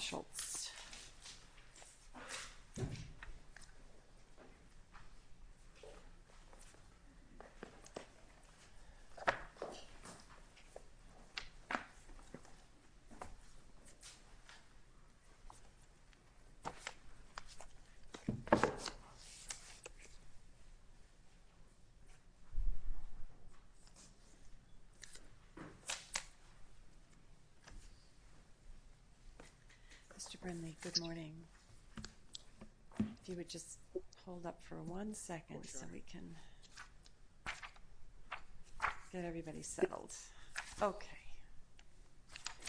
Schultz Mr. Brindley, good morning. If you would just hold up for one second so we can get everybody settled. Okay.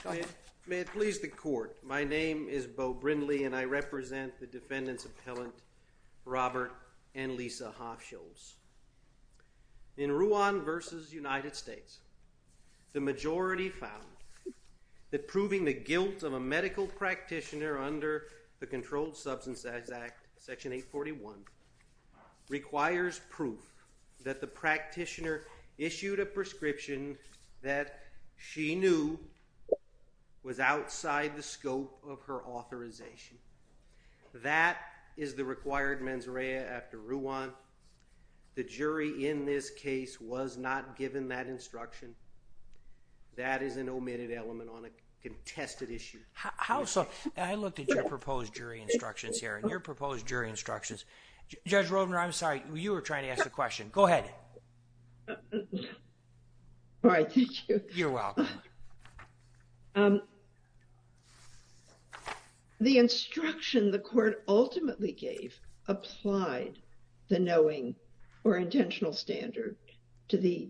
Go ahead. May it please the court, my name is Beau Brindley and I represent the defendant's appellant Robert and Lisa Hofschulz. In Ruan v. United States, the majority found that proving the guilt of a medical practitioner under the Controlled Substances Act, Section 841, requires proof that the practitioner issued a prescription that she knew was outside the scope of her authorization. That is the required mens rea after Ruan. The jury in this case was not given that instruction. That is an omitted element on a contested issue. How so? I looked at your proposed jury instructions here and your proposed jury instructions. Judge Rovner, I'm sorry, you were trying to ask the question. Go ahead. All right, thank you. You're welcome. The instruction the court ultimately gave applied the knowing or intentional standard to the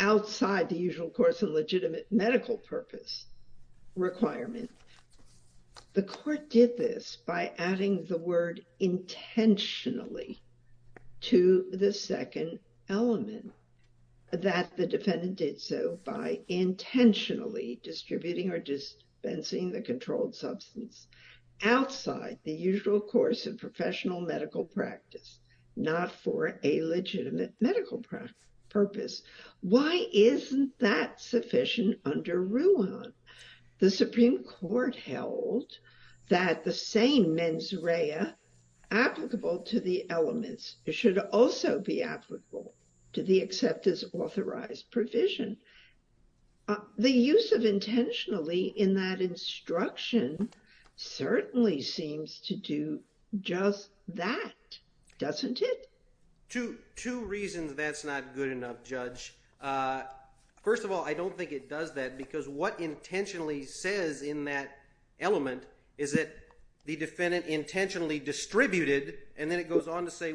outside the usual course of legitimate medical purpose requirement. The court did this by adding the word intentionally to the second element that the defendant did so by intentionally distributing or dispensing the controlled substance outside the usual course of professional medical practice, not for a legitimate medical purpose. Why isn't that sufficient under Ruan? The Supreme Court held that the same mens rea applicable to the elements should also be applicable to the acceptor's authorized provision. The use of intentionally in that instruction certainly seems to do just that, doesn't it? Two reasons that's not good enough, Judge. First of all, I don't think it does that because what intentionally says in that element is that the defendant intentionally distributed, and then it goes on to say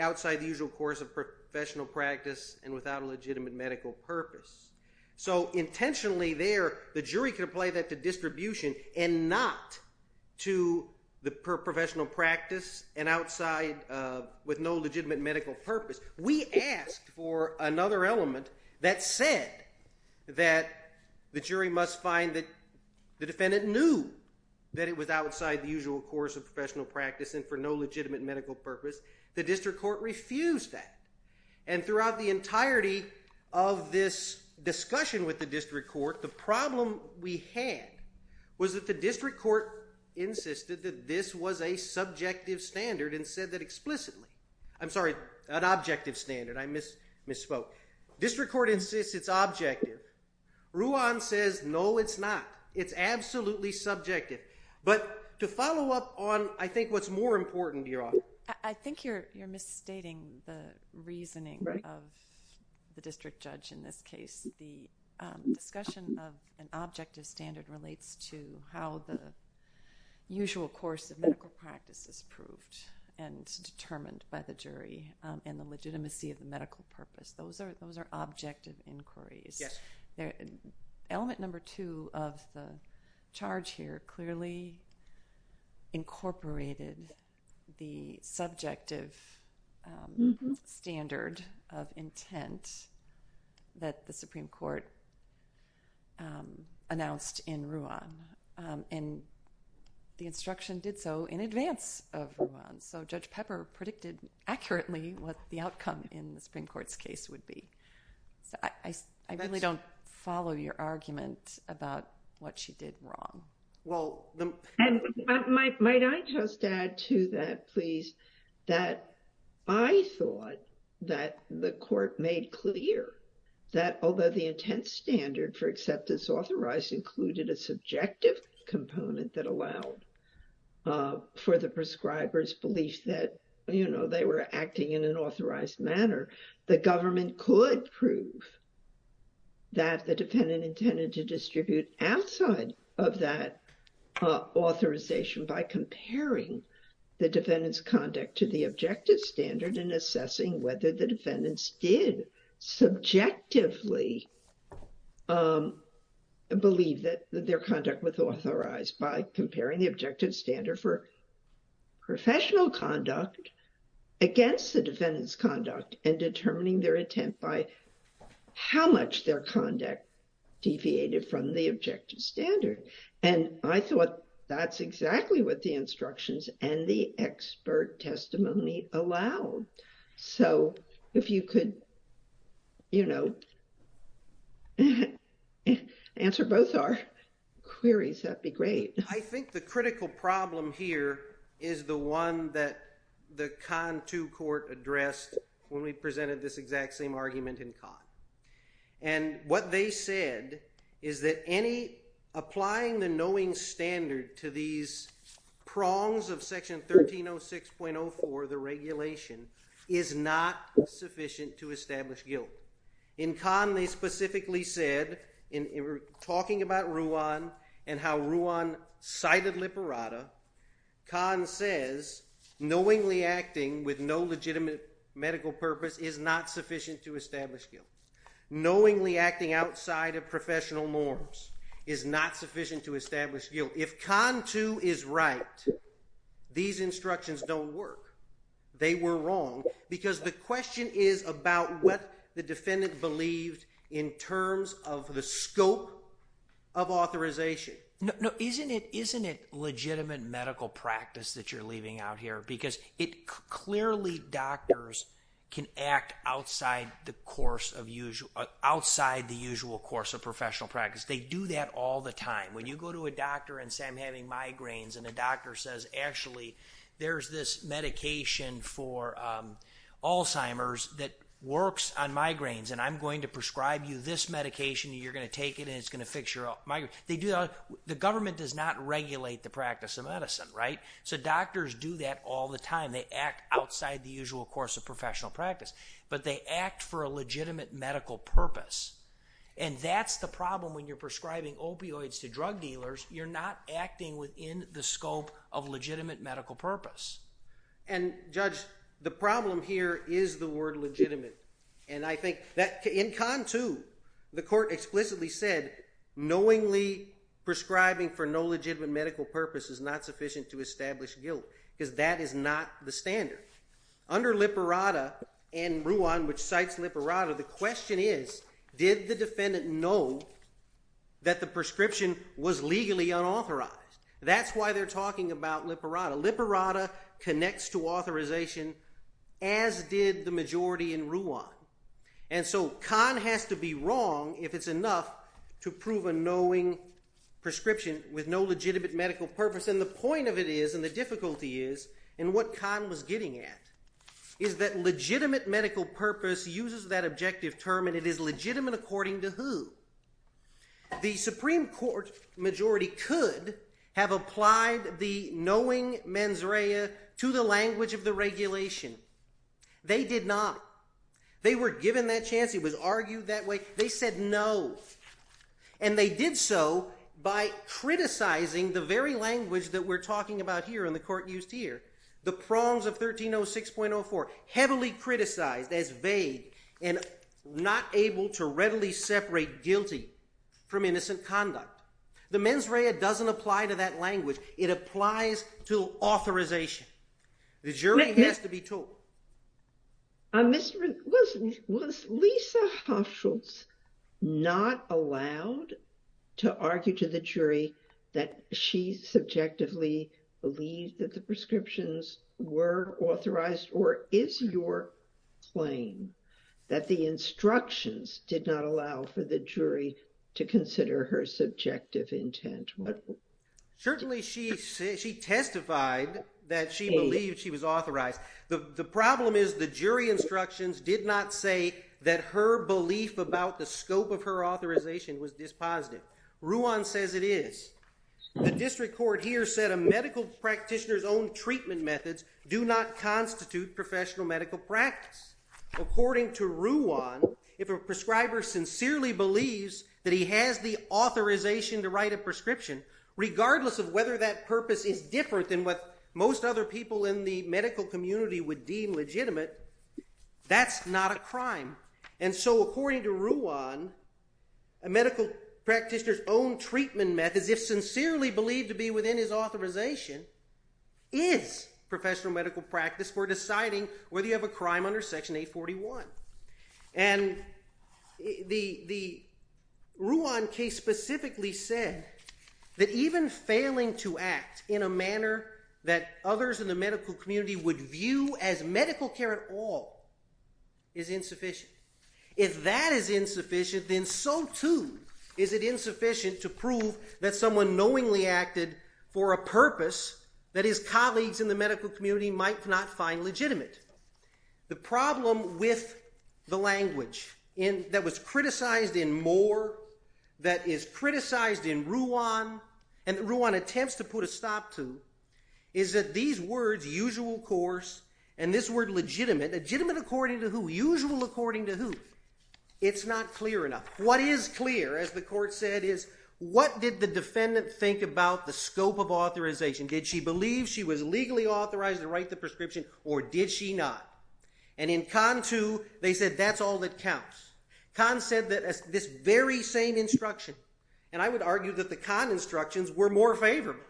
outside the usual course of professional practice and without a legitimate medical purpose. So intentionally there, the jury can apply that to distribution and not to the professional practice and outside with no legitimate medical purpose. We asked for another element that said that the jury must find that the defendant knew that it was outside the usual course of professional practice and for no legitimate medical purpose. The district court refused that. And throughout the entirety of this discussion with the district court, the problem we had was that the district court insisted that this was a subjective standard and said that explicitly. I'm sorry, an objective standard. I misspoke. District court insists it's objective. Ruan says, no, it's not. It's absolutely subjective. But to follow up on, I think, what's more important, Your Honor. I think you're misstating the reasoning of the district judge in this case. The discussion of an objective standard relates to how the usual course of medical practice is proved and determined by the jury and the legitimacy of the medical purpose. Those are objective inquiries. Element number two of the charge here clearly incorporated the subjective standard of intent that the Supreme Court announced in Ruan. And the instruction did so in advance of Ruan. So Judge Pepper predicted accurately what the outcome in the Supreme Court's case would be. I really don't follow your argument about what she did wrong. And might I just add to that, please, that I thought that the court made clear that although the intent standard for acceptance authorized included a subjective component that allowed for the prescriber's belief that, you know, they were acting in an authorized manner, the government could prove that the defendant intended to distribute outside of that authorization by comparing the defendant's conduct to the objective standard and assessing whether the defendants did subjectively believe that their conduct was authorized by comparing the objective standard for professional conduct against the defendant's conduct and determining their intent by how much their conduct deviated from the objective standard. And I thought that's exactly what the instructions and the expert testimony allowed. So if you could, you know, answer both our queries, that'd be great. I think the critical problem here is the one that the Kahn II Court addressed when we presented this exact same argument in Kahn. And what they said is that applying the knowing standard to these prongs of Section 1306.04, the regulation, is not sufficient to establish guilt. In Kahn, they specifically said, in talking about Ruan and how Ruan cited Liperada, Kahn says knowingly acting with no legitimate medical purpose is not sufficient to establish guilt. Knowingly acting outside of professional norms is not sufficient to establish guilt. If Kahn II is right, these instructions don't work. They were wrong. Because the question is about what the defendant believed in terms of the scope of authorization. No, isn't it legitimate medical practice that you're leaving out here? Because clearly doctors can act outside the usual course of professional practice. They do that all the time. When you go to a doctor and say, I'm having migraines, and the doctor says, actually, there's this medication for Alzheimer's that works on migraines, and I'm going to prescribe you this medication, and you're going to take it, and it's going to fix your migraines. The government does not regulate the practice of medicine, right? So doctors do that all the time. They act outside the usual course of professional practice. But they act for a legitimate medical purpose. And that's the problem when you're prescribing opioids to drug dealers. You're not acting within the scope of legitimate medical purpose. And Judge, the problem here is the word legitimate. And I think that in Kahn II, the court explicitly said knowingly prescribing for no legitimate medical purpose is not sufficient to establish guilt. Because that is not the standard. Under Liparada and Ruan, which cites Liparada, the question is, did the defendant know that the prescription was legally unauthorized? That's why they're talking about Liparada. Liparada connects to authorization, as did the majority in Ruan. And so Kahn has to be wrong, if it's enough, to prove a knowing prescription with no legitimate medical purpose. And the point of it is, and the difficulty is, and what Kahn was getting at, is that legitimate medical purpose uses that objective term. And it is legitimate according to who? The Supreme Court majority could have applied the knowing mens rea to the language of the regulation. They did not. They were given that chance. It was argued that way. They said no. And they did so by criticizing the very language that we're talking about here in the court used here. The prongs of 1306.04, heavily criticized as vague and not able to readily separate guilty from innocent conduct. The mens rea doesn't apply to that language. It applies to authorization. The jury has to be told. Was Lisa Hochschultz not allowed to argue to the jury that she subjectively believed that the prescriptions were authorized? Or is your claim that the instructions did not allow for the jury to consider her subjective intent? Certainly she testified that she believed she was authorized. The problem is the jury instructions did not say that her belief about the scope of her authorization was dispositive. Ruan says it is. The district court here said a medical practitioner's own treatment methods do not constitute professional medical practice. According to Ruan, if a prescriber sincerely believes that he has the authorization to write a prescription, regardless of whether that purpose is different than what most other people in the medical community would deem legitimate, that's not a crime. And so according to Ruan, a medical practitioner's own treatment methods, if sincerely believed to be within his authorization, is professional medical practice for deciding whether you have a crime under Section 841. And the Ruan case specifically said that even failing to act in a manner that others in the medical community would view as medical care at all is insufficient. If that is insufficient, then so too is it insufficient to prove that someone knowingly acted for a purpose that his colleagues in the medical community might not find legitimate. The problem with the language that was criticized in Moore, that is criticized in Ruan, and that Ruan attempts to put a stop to, is that these words, usual course, and this word legitimate, legitimate according to who? Usual according to who? It's not clear enough. What is clear, as the court said, is what did the defendant think about the scope of authorization? Did she believe she was legally authorized to write the prescription, or did she not? And in Con 2, they said that's all that counts. Con said that this very same instruction, and I would argue that the Con instructions were more favorable,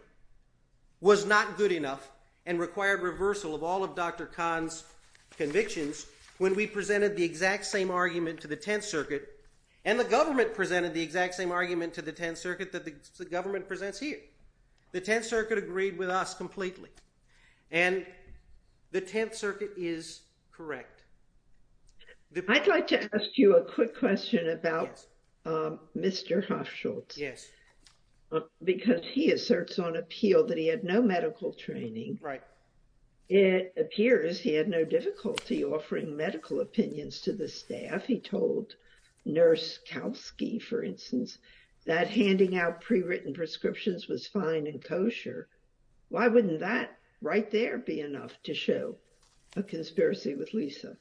was not good enough and required reversal of all of Dr. Con's convictions when we presented the exact same argument to the Tenth Circuit, and the government presented the exact same argument to the Tenth Circuit that the government presents here. The Tenth Circuit agreed with us completely, and the Tenth Circuit is correct. I'd like to ask you a quick question about Mr. Hofschultz. Yes. Because he asserts on appeal that he had no medical training. Right. It appears he had no difficulty offering medical opinions to the staff. He told Nurse Kowsky, for instance, that handing out prewritten prescriptions was fine and kosher. Why wouldn't that right there be enough to show a conspiracy with Lisa?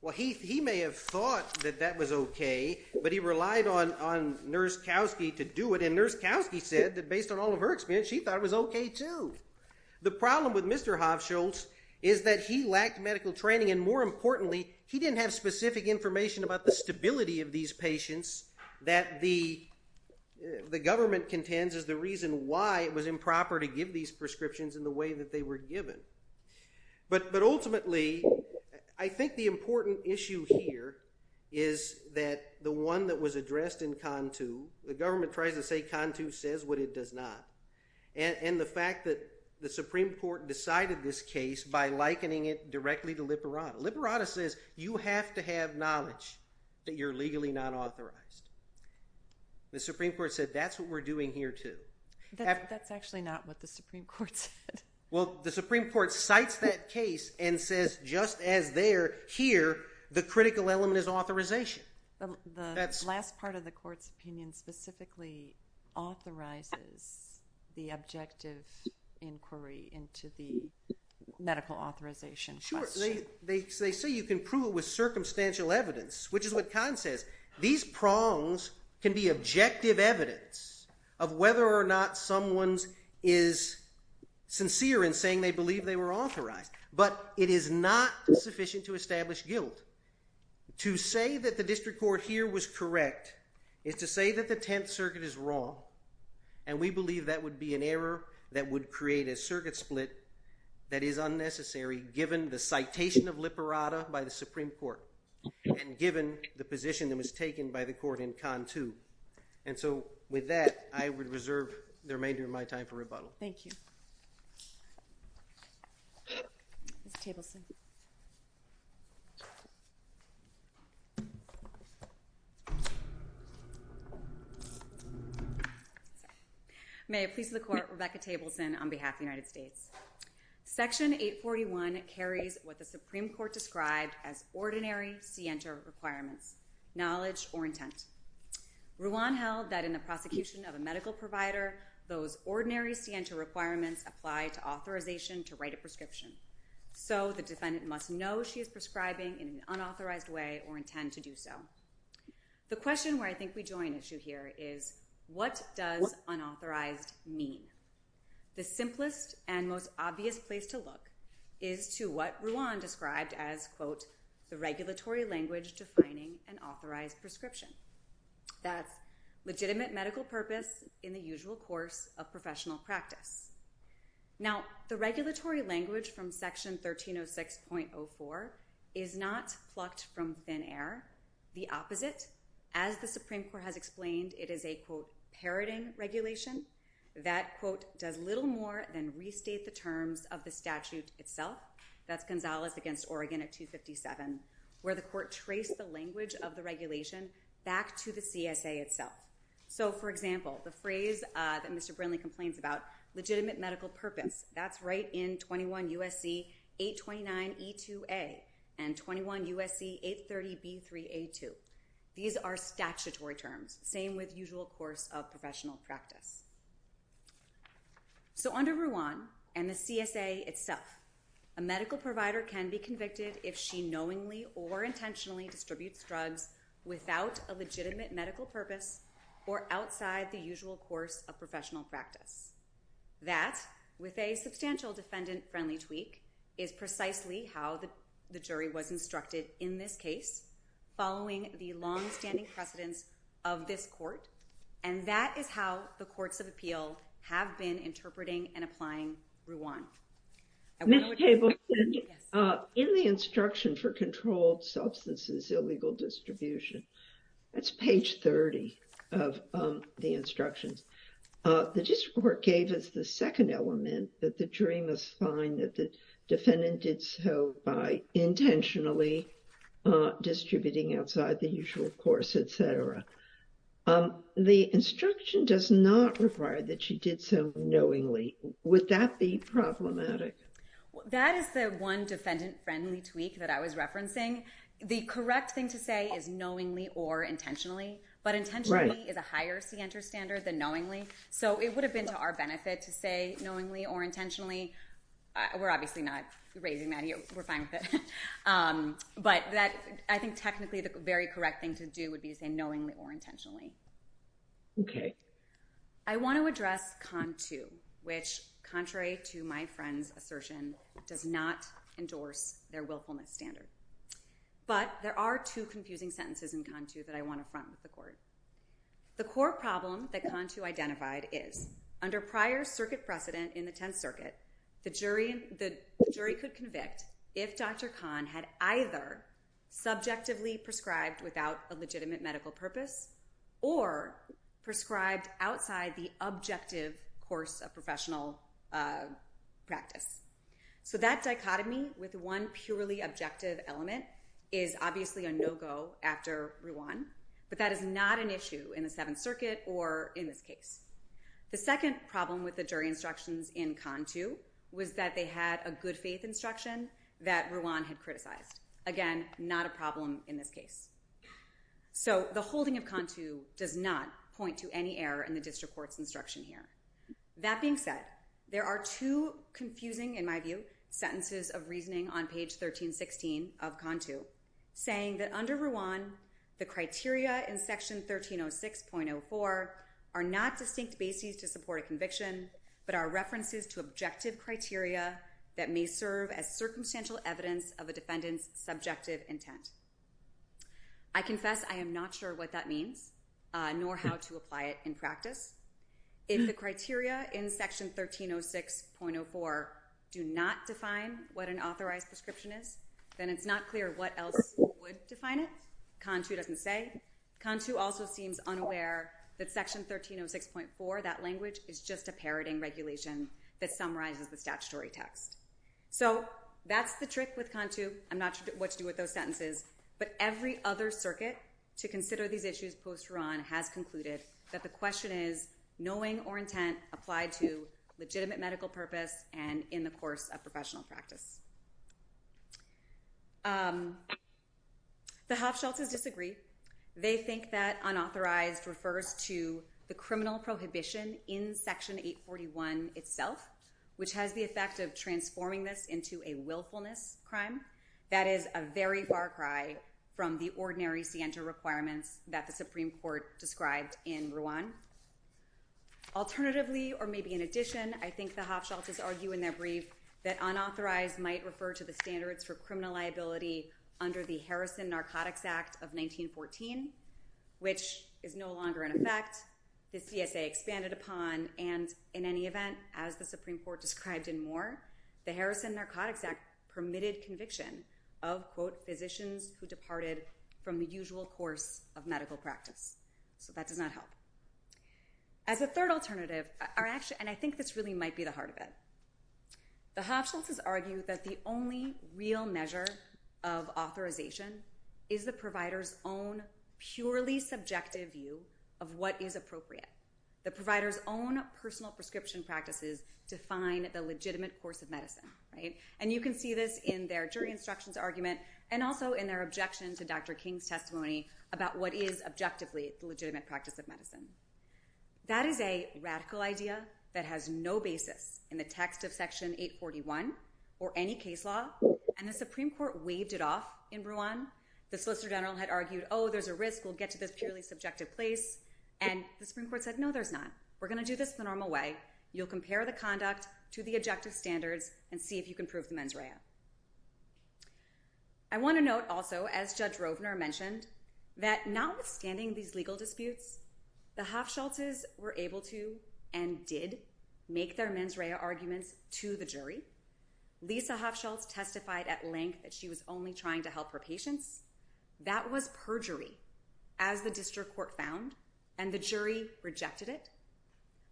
Well, he may have thought that that was okay, but he relied on Nurse Kowsky to do it, and Nurse Kowsky said that based on all of her experience, she thought it was okay, too. The problem with Mr. Hofschultz is that he lacked medical training, and more importantly, he didn't have specific information about the stability of these patients that the government contends is the reason why it was improper to give these prescriptions in the way that they were given. But ultimately, I think the important issue here is that the one that was addressed in CONTU, the government tries to say CONTU says what it does not, and the fact that the Supreme Court decided this case by likening it directly to Liberata. Liberata says you have to have knowledge that you're legally not authorized. The Supreme Court said that's what we're doing here, too. That's actually not what the Supreme Court said. Well, the Supreme Court cites that case and says just as there, here, the critical element is authorization. The last part of the court's opinion specifically authorizes the objective inquiry into the medical authorization question. Sure. They say you can prove it with circumstantial evidence, which is what CONTU says. These prongs can be objective evidence of whether or not someone is sincere in saying they believe they were authorized, but it is not sufficient to establish guilt. To say that the district court here was correct is to say that the Tenth Circuit is wrong, and we believe that would be an error that would create a circuit split that is unnecessary, given the citation of Liberata by the Supreme Court and given the position that was taken by the court in CONTU. And so with that, I would reserve the remainder of my time for rebuttal. Thank you. Mr. Tableson. May it please the court, Rebecca Tableson on behalf of the United States. Section 841 carries what the Supreme Court described as ordinary scienter requirements, knowledge or intent. Ruan held that in the prosecution of a medical provider, those ordinary scienter requirements apply to authorization to write a prescription. So the defendant must know she is prescribing in an unauthorized way or intend to do so. The question where I think we join issue here is what does unauthorized mean? The simplest and most obvious place to look is to what Ruan described as, quote, the regulatory language defining an authorized prescription. That's legitimate medical purpose in the usual course of professional practice. Now, the regulatory language from Section 1306.04 is not plucked from thin air. The opposite, as the Supreme Court has explained, it is a, quote, parroting regulation that, quote, does little more than restate the terms of the statute itself. That's Gonzalez against Oregon at 257, where the court traced the language of the regulation back to the CSA itself. So, for example, the phrase that Mr. Brinley complains about, legitimate medical purpose, that's right in 21 U.S.C. 829E2A and 21 U.S.C. 830B3A2. These are statutory terms, same with usual course of professional practice. So under Ruan and the CSA itself, a medical provider can be convicted if she knowingly or intentionally distributes drugs without a legitimate medical purpose or outside the usual course of professional practice. That, with a substantial defendant-friendly tweak, is precisely how the jury was instructed in this case, following the longstanding precedence of this court. And that is how the courts of appeal have been interpreting and applying Ruan. Ms. Tableton, in the instruction for controlled substances illegal distribution, that's page 30 of the instructions. The district court gave us the second element that the jury must find that the defendant did so by intentionally distributing outside the usual course, et cetera. The instruction does not require that she did so knowingly. Would that be problematic? That is the one defendant-friendly tweak that I was referencing. The correct thing to say is knowingly or intentionally, but intentionally is a higher CENTER standard than knowingly. So it would have been to our benefit to say knowingly or intentionally. We're obviously not raising that here. We're fine with it. But I think technically the very correct thing to do would be to say knowingly or intentionally. Okay. I want to address CON 2, which, contrary to my friend's assertion, does not endorse their willfulness standard. But there are two confusing sentences in CON 2 that I want to front with the court. The core problem that CON 2 identified is, under prior circuit precedent in the Tenth Circuit, the jury could convict if Dr. Kahn had either subjectively prescribed without a legitimate medical purpose or prescribed outside the objective course of professional practice. So that dichotomy with one purely objective element is obviously a no-go after Ruan. But that is not an issue in the Seventh Circuit or in this case. The second problem with the jury instructions in CON 2 was that they had a good-faith instruction that Ruan had criticized. Again, not a problem in this case. So the holding of CON 2 does not point to any error in the district court's instruction here. That being said, there are two confusing, in my view, sentences of reasoning on page 1316 of CON 2, saying that under Ruan, the criteria in Section 1306.04 are not distinct bases to support a conviction, but are references to objective criteria that may serve as circumstantial evidence of a defendant's subjective intent. I confess I am not sure what that means, nor how to apply it in practice. If the criteria in Section 1306.04 do not define what an authorized prescription is, then it's not clear what else would define it. CON 2 doesn't say. Again, CON 2 also seems unaware that Section 1306.4, that language, is just a parroting regulation that summarizes the statutory text. So that's the trick with CON 2. I'm not sure what to do with those sentences. But every other circuit to consider these issues post-Ruan has concluded that the question is, knowing or intent applied to legitimate medical purpose and in the course of professional practice. The Hofschultz's disagree. They think that unauthorized refers to the criminal prohibition in Section 841 itself, which has the effect of transforming this into a willfulness crime. That is a very far cry from the ordinary scienter requirements that the Supreme Court described in Ruan. Alternatively, or maybe in addition, I think the Hofschultz's argue in their brief that unauthorized might refer to the standards for criminal liability under the Harrison Narcotics Act of 1914, which is no longer in effect. The CSA expanded upon, and in any event, as the Supreme Court described in Moore, the Harrison Narcotics Act permitted conviction of, quote, physicians who departed from the usual course of medical practice. So that does not help. As a third alternative, and I think this really might be the heart of it, the Hofschultz's argue that the only real measure of authorization is the provider's own purely subjective view of what is appropriate. The provider's own personal prescription practices define the legitimate course of medicine. And you can see this in their jury instructions argument and also in their objection to Dr. King's testimony about what is objectively the legitimate practice of medicine. That is a radical idea that has no basis in the text of Section 841 or any case law. And the Supreme Court waved it off in Ruan. The Solicitor General had argued, oh, there's a risk we'll get to this purely subjective place. And the Supreme Court said, no, there's not. We're going to do this the normal way. You'll compare the conduct to the objective standards and see if you can prove the mens rea. I want to note also, as Judge Rovner mentioned, that notwithstanding these legal disputes, the Hofschultz's were able to and did make their mens rea arguments to the jury. Lisa Hofschultz testified at length that she was only trying to help her patients. That was perjury, as the district court found, and the jury rejected it.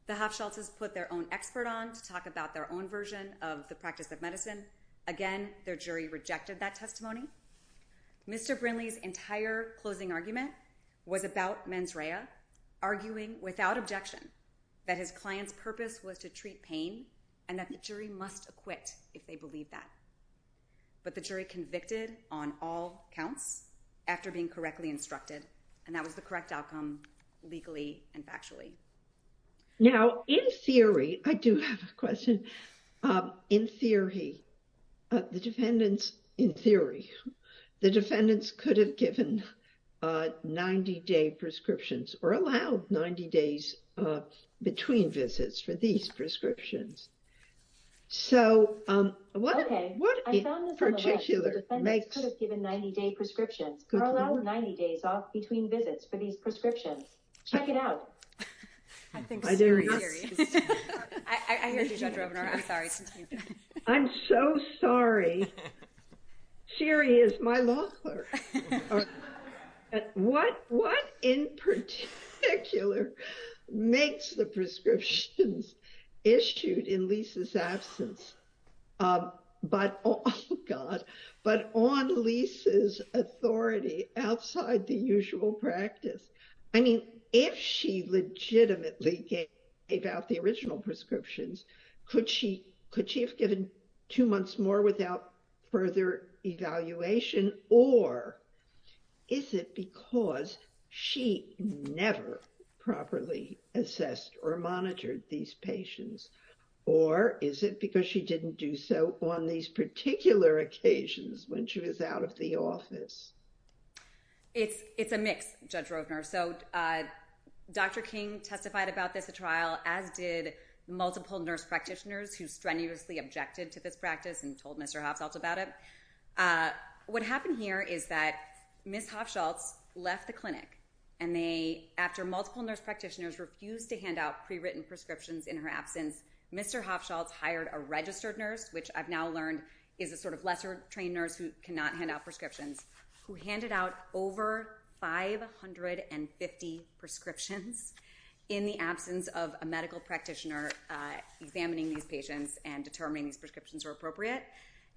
The Hofschultz's put their own expert on to talk about their own version of the practice of medicine. Again, their jury rejected that testimony. Mr. Brinley's entire closing argument was about mens rea, arguing without objection that his client's purpose was to treat pain and that the jury must acquit if they believe that. But the jury convicted on all counts after being correctly instructed. And that was the correct outcome legally and factually. Now, in theory, I do have a question. In theory, the defendants could have given 90-day prescriptions or allowed 90 days between visits for these prescriptions. Okay, I found this on the web. The defendants could have given 90-day prescriptions or allowed 90 days off between visits for these prescriptions. Check it out. I think Siri. I hear you, Judge Rovner. I'm sorry. I'm so sorry. Siri is my lawyer. What in particular makes the prescriptions issued in Lisa's absence but on Lisa's authority outside the usual practice? I mean, if she legitimately gave out the original prescriptions, could she have given two months more without further evaluation? Or is it because she never properly assessed or monitored these patients? Or is it because she didn't do so on these particular occasions when she was out of the office? It's a mix, Judge Rovner. So Dr. King testified about this at trial, as did multiple nurse practitioners who strenuously objected to this practice and told Mr. Hofschultz about it. What happened here is that Ms. Hofschultz left the clinic, and they, after multiple nurse practitioners refused to hand out prewritten prescriptions in her absence, Mr. Hofschultz hired a registered nurse, which I've now learned is a sort of lesser trained nurse who cannot hand out prescriptions, who handed out over 550 prescriptions in the absence of a medical practitioner examining these patients and determining these prescriptions were appropriate.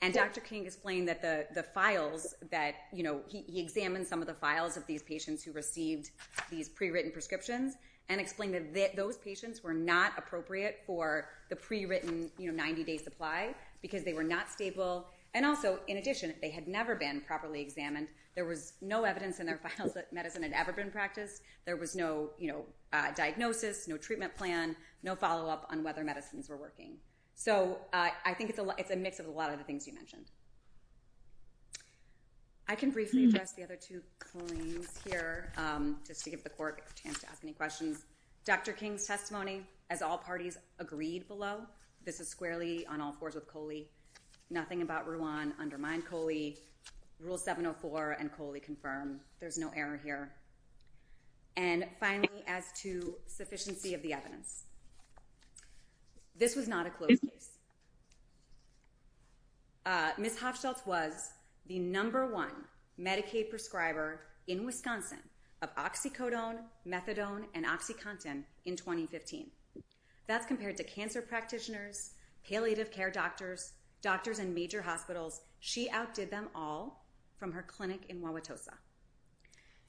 And Dr. King explained that the files that—he examined some of the files of these patients who received these prewritten prescriptions and explained that those patients were not appropriate for the prewritten 90-day supply because they were not stable. And also, in addition, they had never been properly examined. There was no evidence in their files that medicine had ever been practiced. There was no diagnosis, no treatment plan, no follow-up on whether medicines were working. So I think it's a mix of a lot of the things you mentioned. I can briefly address the other two claims here just to give the court a chance to ask any questions. Dr. King's testimony, as all parties agreed below, this is squarely on all fours with Coley. Nothing about Rouen undermined Coley. Rule 704 and Coley confirm. There's no error here. And finally, as to sufficiency of the evidence, this was not a closed case. Ms. Hofschultz was the number one Medicaid prescriber in Wisconsin of oxycodone, methadone, and oxycontin in 2015. That's compared to cancer practitioners, palliative care doctors, doctors in major hospitals. She outdid them all from her clinic in Wauwatosa.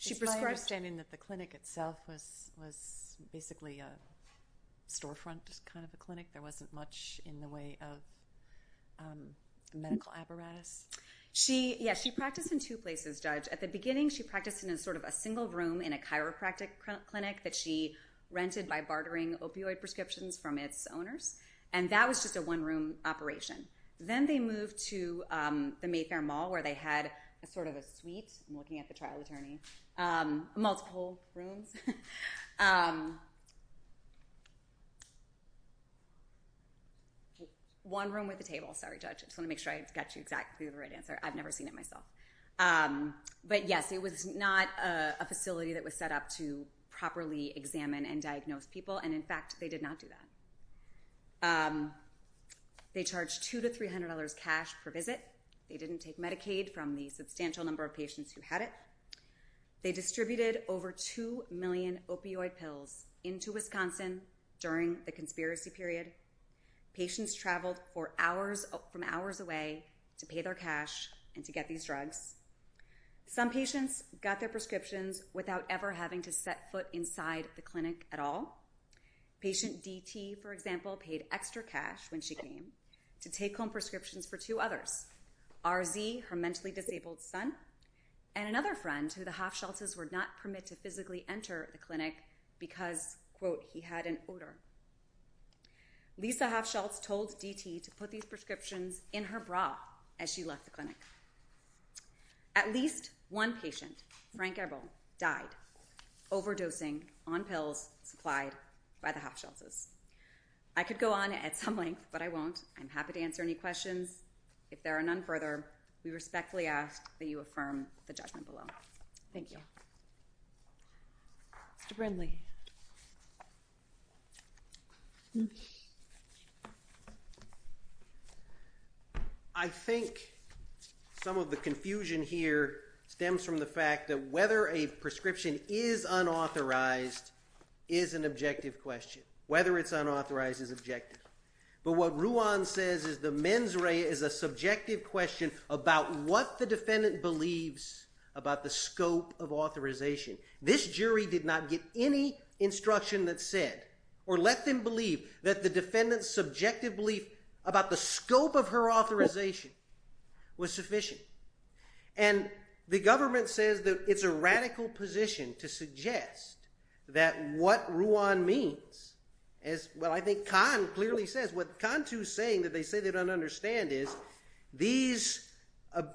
Is my understanding that the clinic itself was basically a storefront kind of a clinic? There wasn't much in the way of medical apparatus? Yes, she practiced in two places, Judge. At the beginning, she practiced in sort of a single room in a chiropractic clinic that she rented by bartering opioid prescriptions from its owners. And that was just a one-room operation. Then they moved to the Mayfair Mall where they had sort of a suite. I'm looking at the trial attorney. Multiple rooms. One room with a table. Sorry, Judge. I just want to make sure I got you exactly the right answer. I've never seen it myself. But, yes, it was not a facility that was set up to properly examine and diagnose people. And, in fact, they did not do that. They charged $200 to $300 cash per visit. They didn't take Medicaid from the substantial number of patients who had it. They distributed over 2 million opioid pills into Wisconsin during the conspiracy period. Patients traveled from hours away to pay their cash and to get these drugs. Some patients got their prescriptions without ever having to set foot inside the clinic at all. Patient DT, for example, paid extra cash when she came to take home prescriptions for two others, RZ, her mentally disabled son, and another friend who the Hofschultzes were not permitted to physically enter the clinic because, quote, he had an odor. Lisa Hofschultz told DT to put these prescriptions in her bra as she left the clinic. At least one patient, Frank Ebel, died overdosing on pills supplied by the Hofschultzes. I could go on at some length, but I won't. I'm happy to answer any questions. If there are none further, we respectfully ask that you affirm the judgment below. Thank you. Mr. Brindley. I think some of the confusion here stems from the fact that whether a prescription is unauthorized is an objective question. Whether it's unauthorized is objective. But what Ruan says is the mens rea is a subjective question about what the defendant believes about the scope of authorization. This jury did not get any instruction that said or let them believe that the defendant's subjective belief about the scope of her authorization was sufficient. And the government says that it's a radical position to suggest that what Ruan means is, well, I think Kahn clearly says, what Kahn too is saying that they say they don't understand is these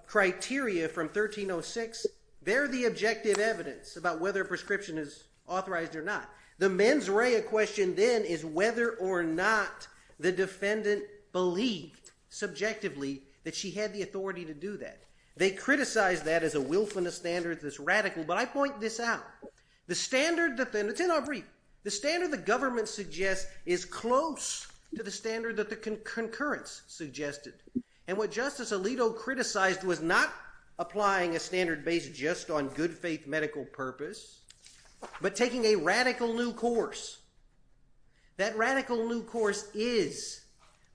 criteria from 1306, they're the objective evidence about whether a prescription is authorized or not. The mens rea question then is whether or not the defendant believed subjectively that she had the authority to do that. They criticize that as a wilfulness standard that's radical, but I point this out. It's in our brief. The standard the government suggests is close to the standard that the concurrence suggested. And what Justice Alito criticized was not applying a standard based just on good faith medical purpose, but taking a radical new course. That radical new course is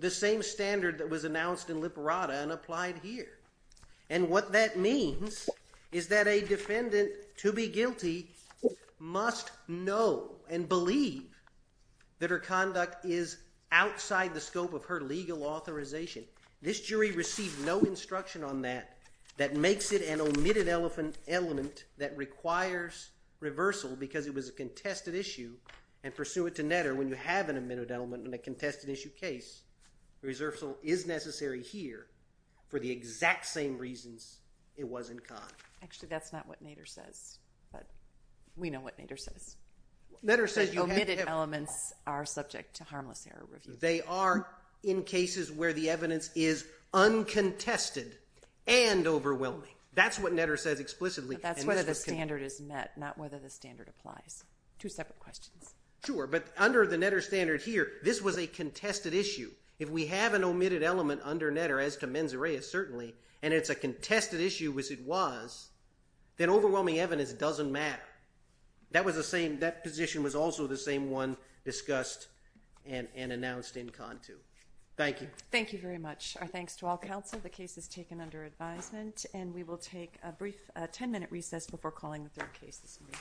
the same standard that was announced in Liberata and applied here. And what that means is that a defendant, to be guilty, must know and believe that her conduct is outside the scope of her legal authorization. This jury received no instruction on that. That makes it an omitted element that requires reversal because it was a contested issue and pursuant to Netter, when you have an omitted element in a contested issue case, reversal is necessary here for the exact same reasons it was in Conn. Actually, that's not what Netter says, but we know what Netter says. Netter says you have evidence. The omitted elements are subject to harmless error review. They are in cases where the evidence is uncontested and overwhelming. That's what Netter says explicitly. But that's whether the standard is met, not whether the standard applies. Two separate questions. Sure, but under the Netter standard here, this was a contested issue. If we have an omitted element under Netter, as to mens rea, certainly, and it's a contested issue as it was, then overwhelming evidence doesn't matter. That position was also the same one discussed and announced in Conn too. Thank you. Thank you very much. Our thanks to all counsel. The case is taken under advisement, and we will take a brief 10-minute recess before calling the third case this evening. Thank you.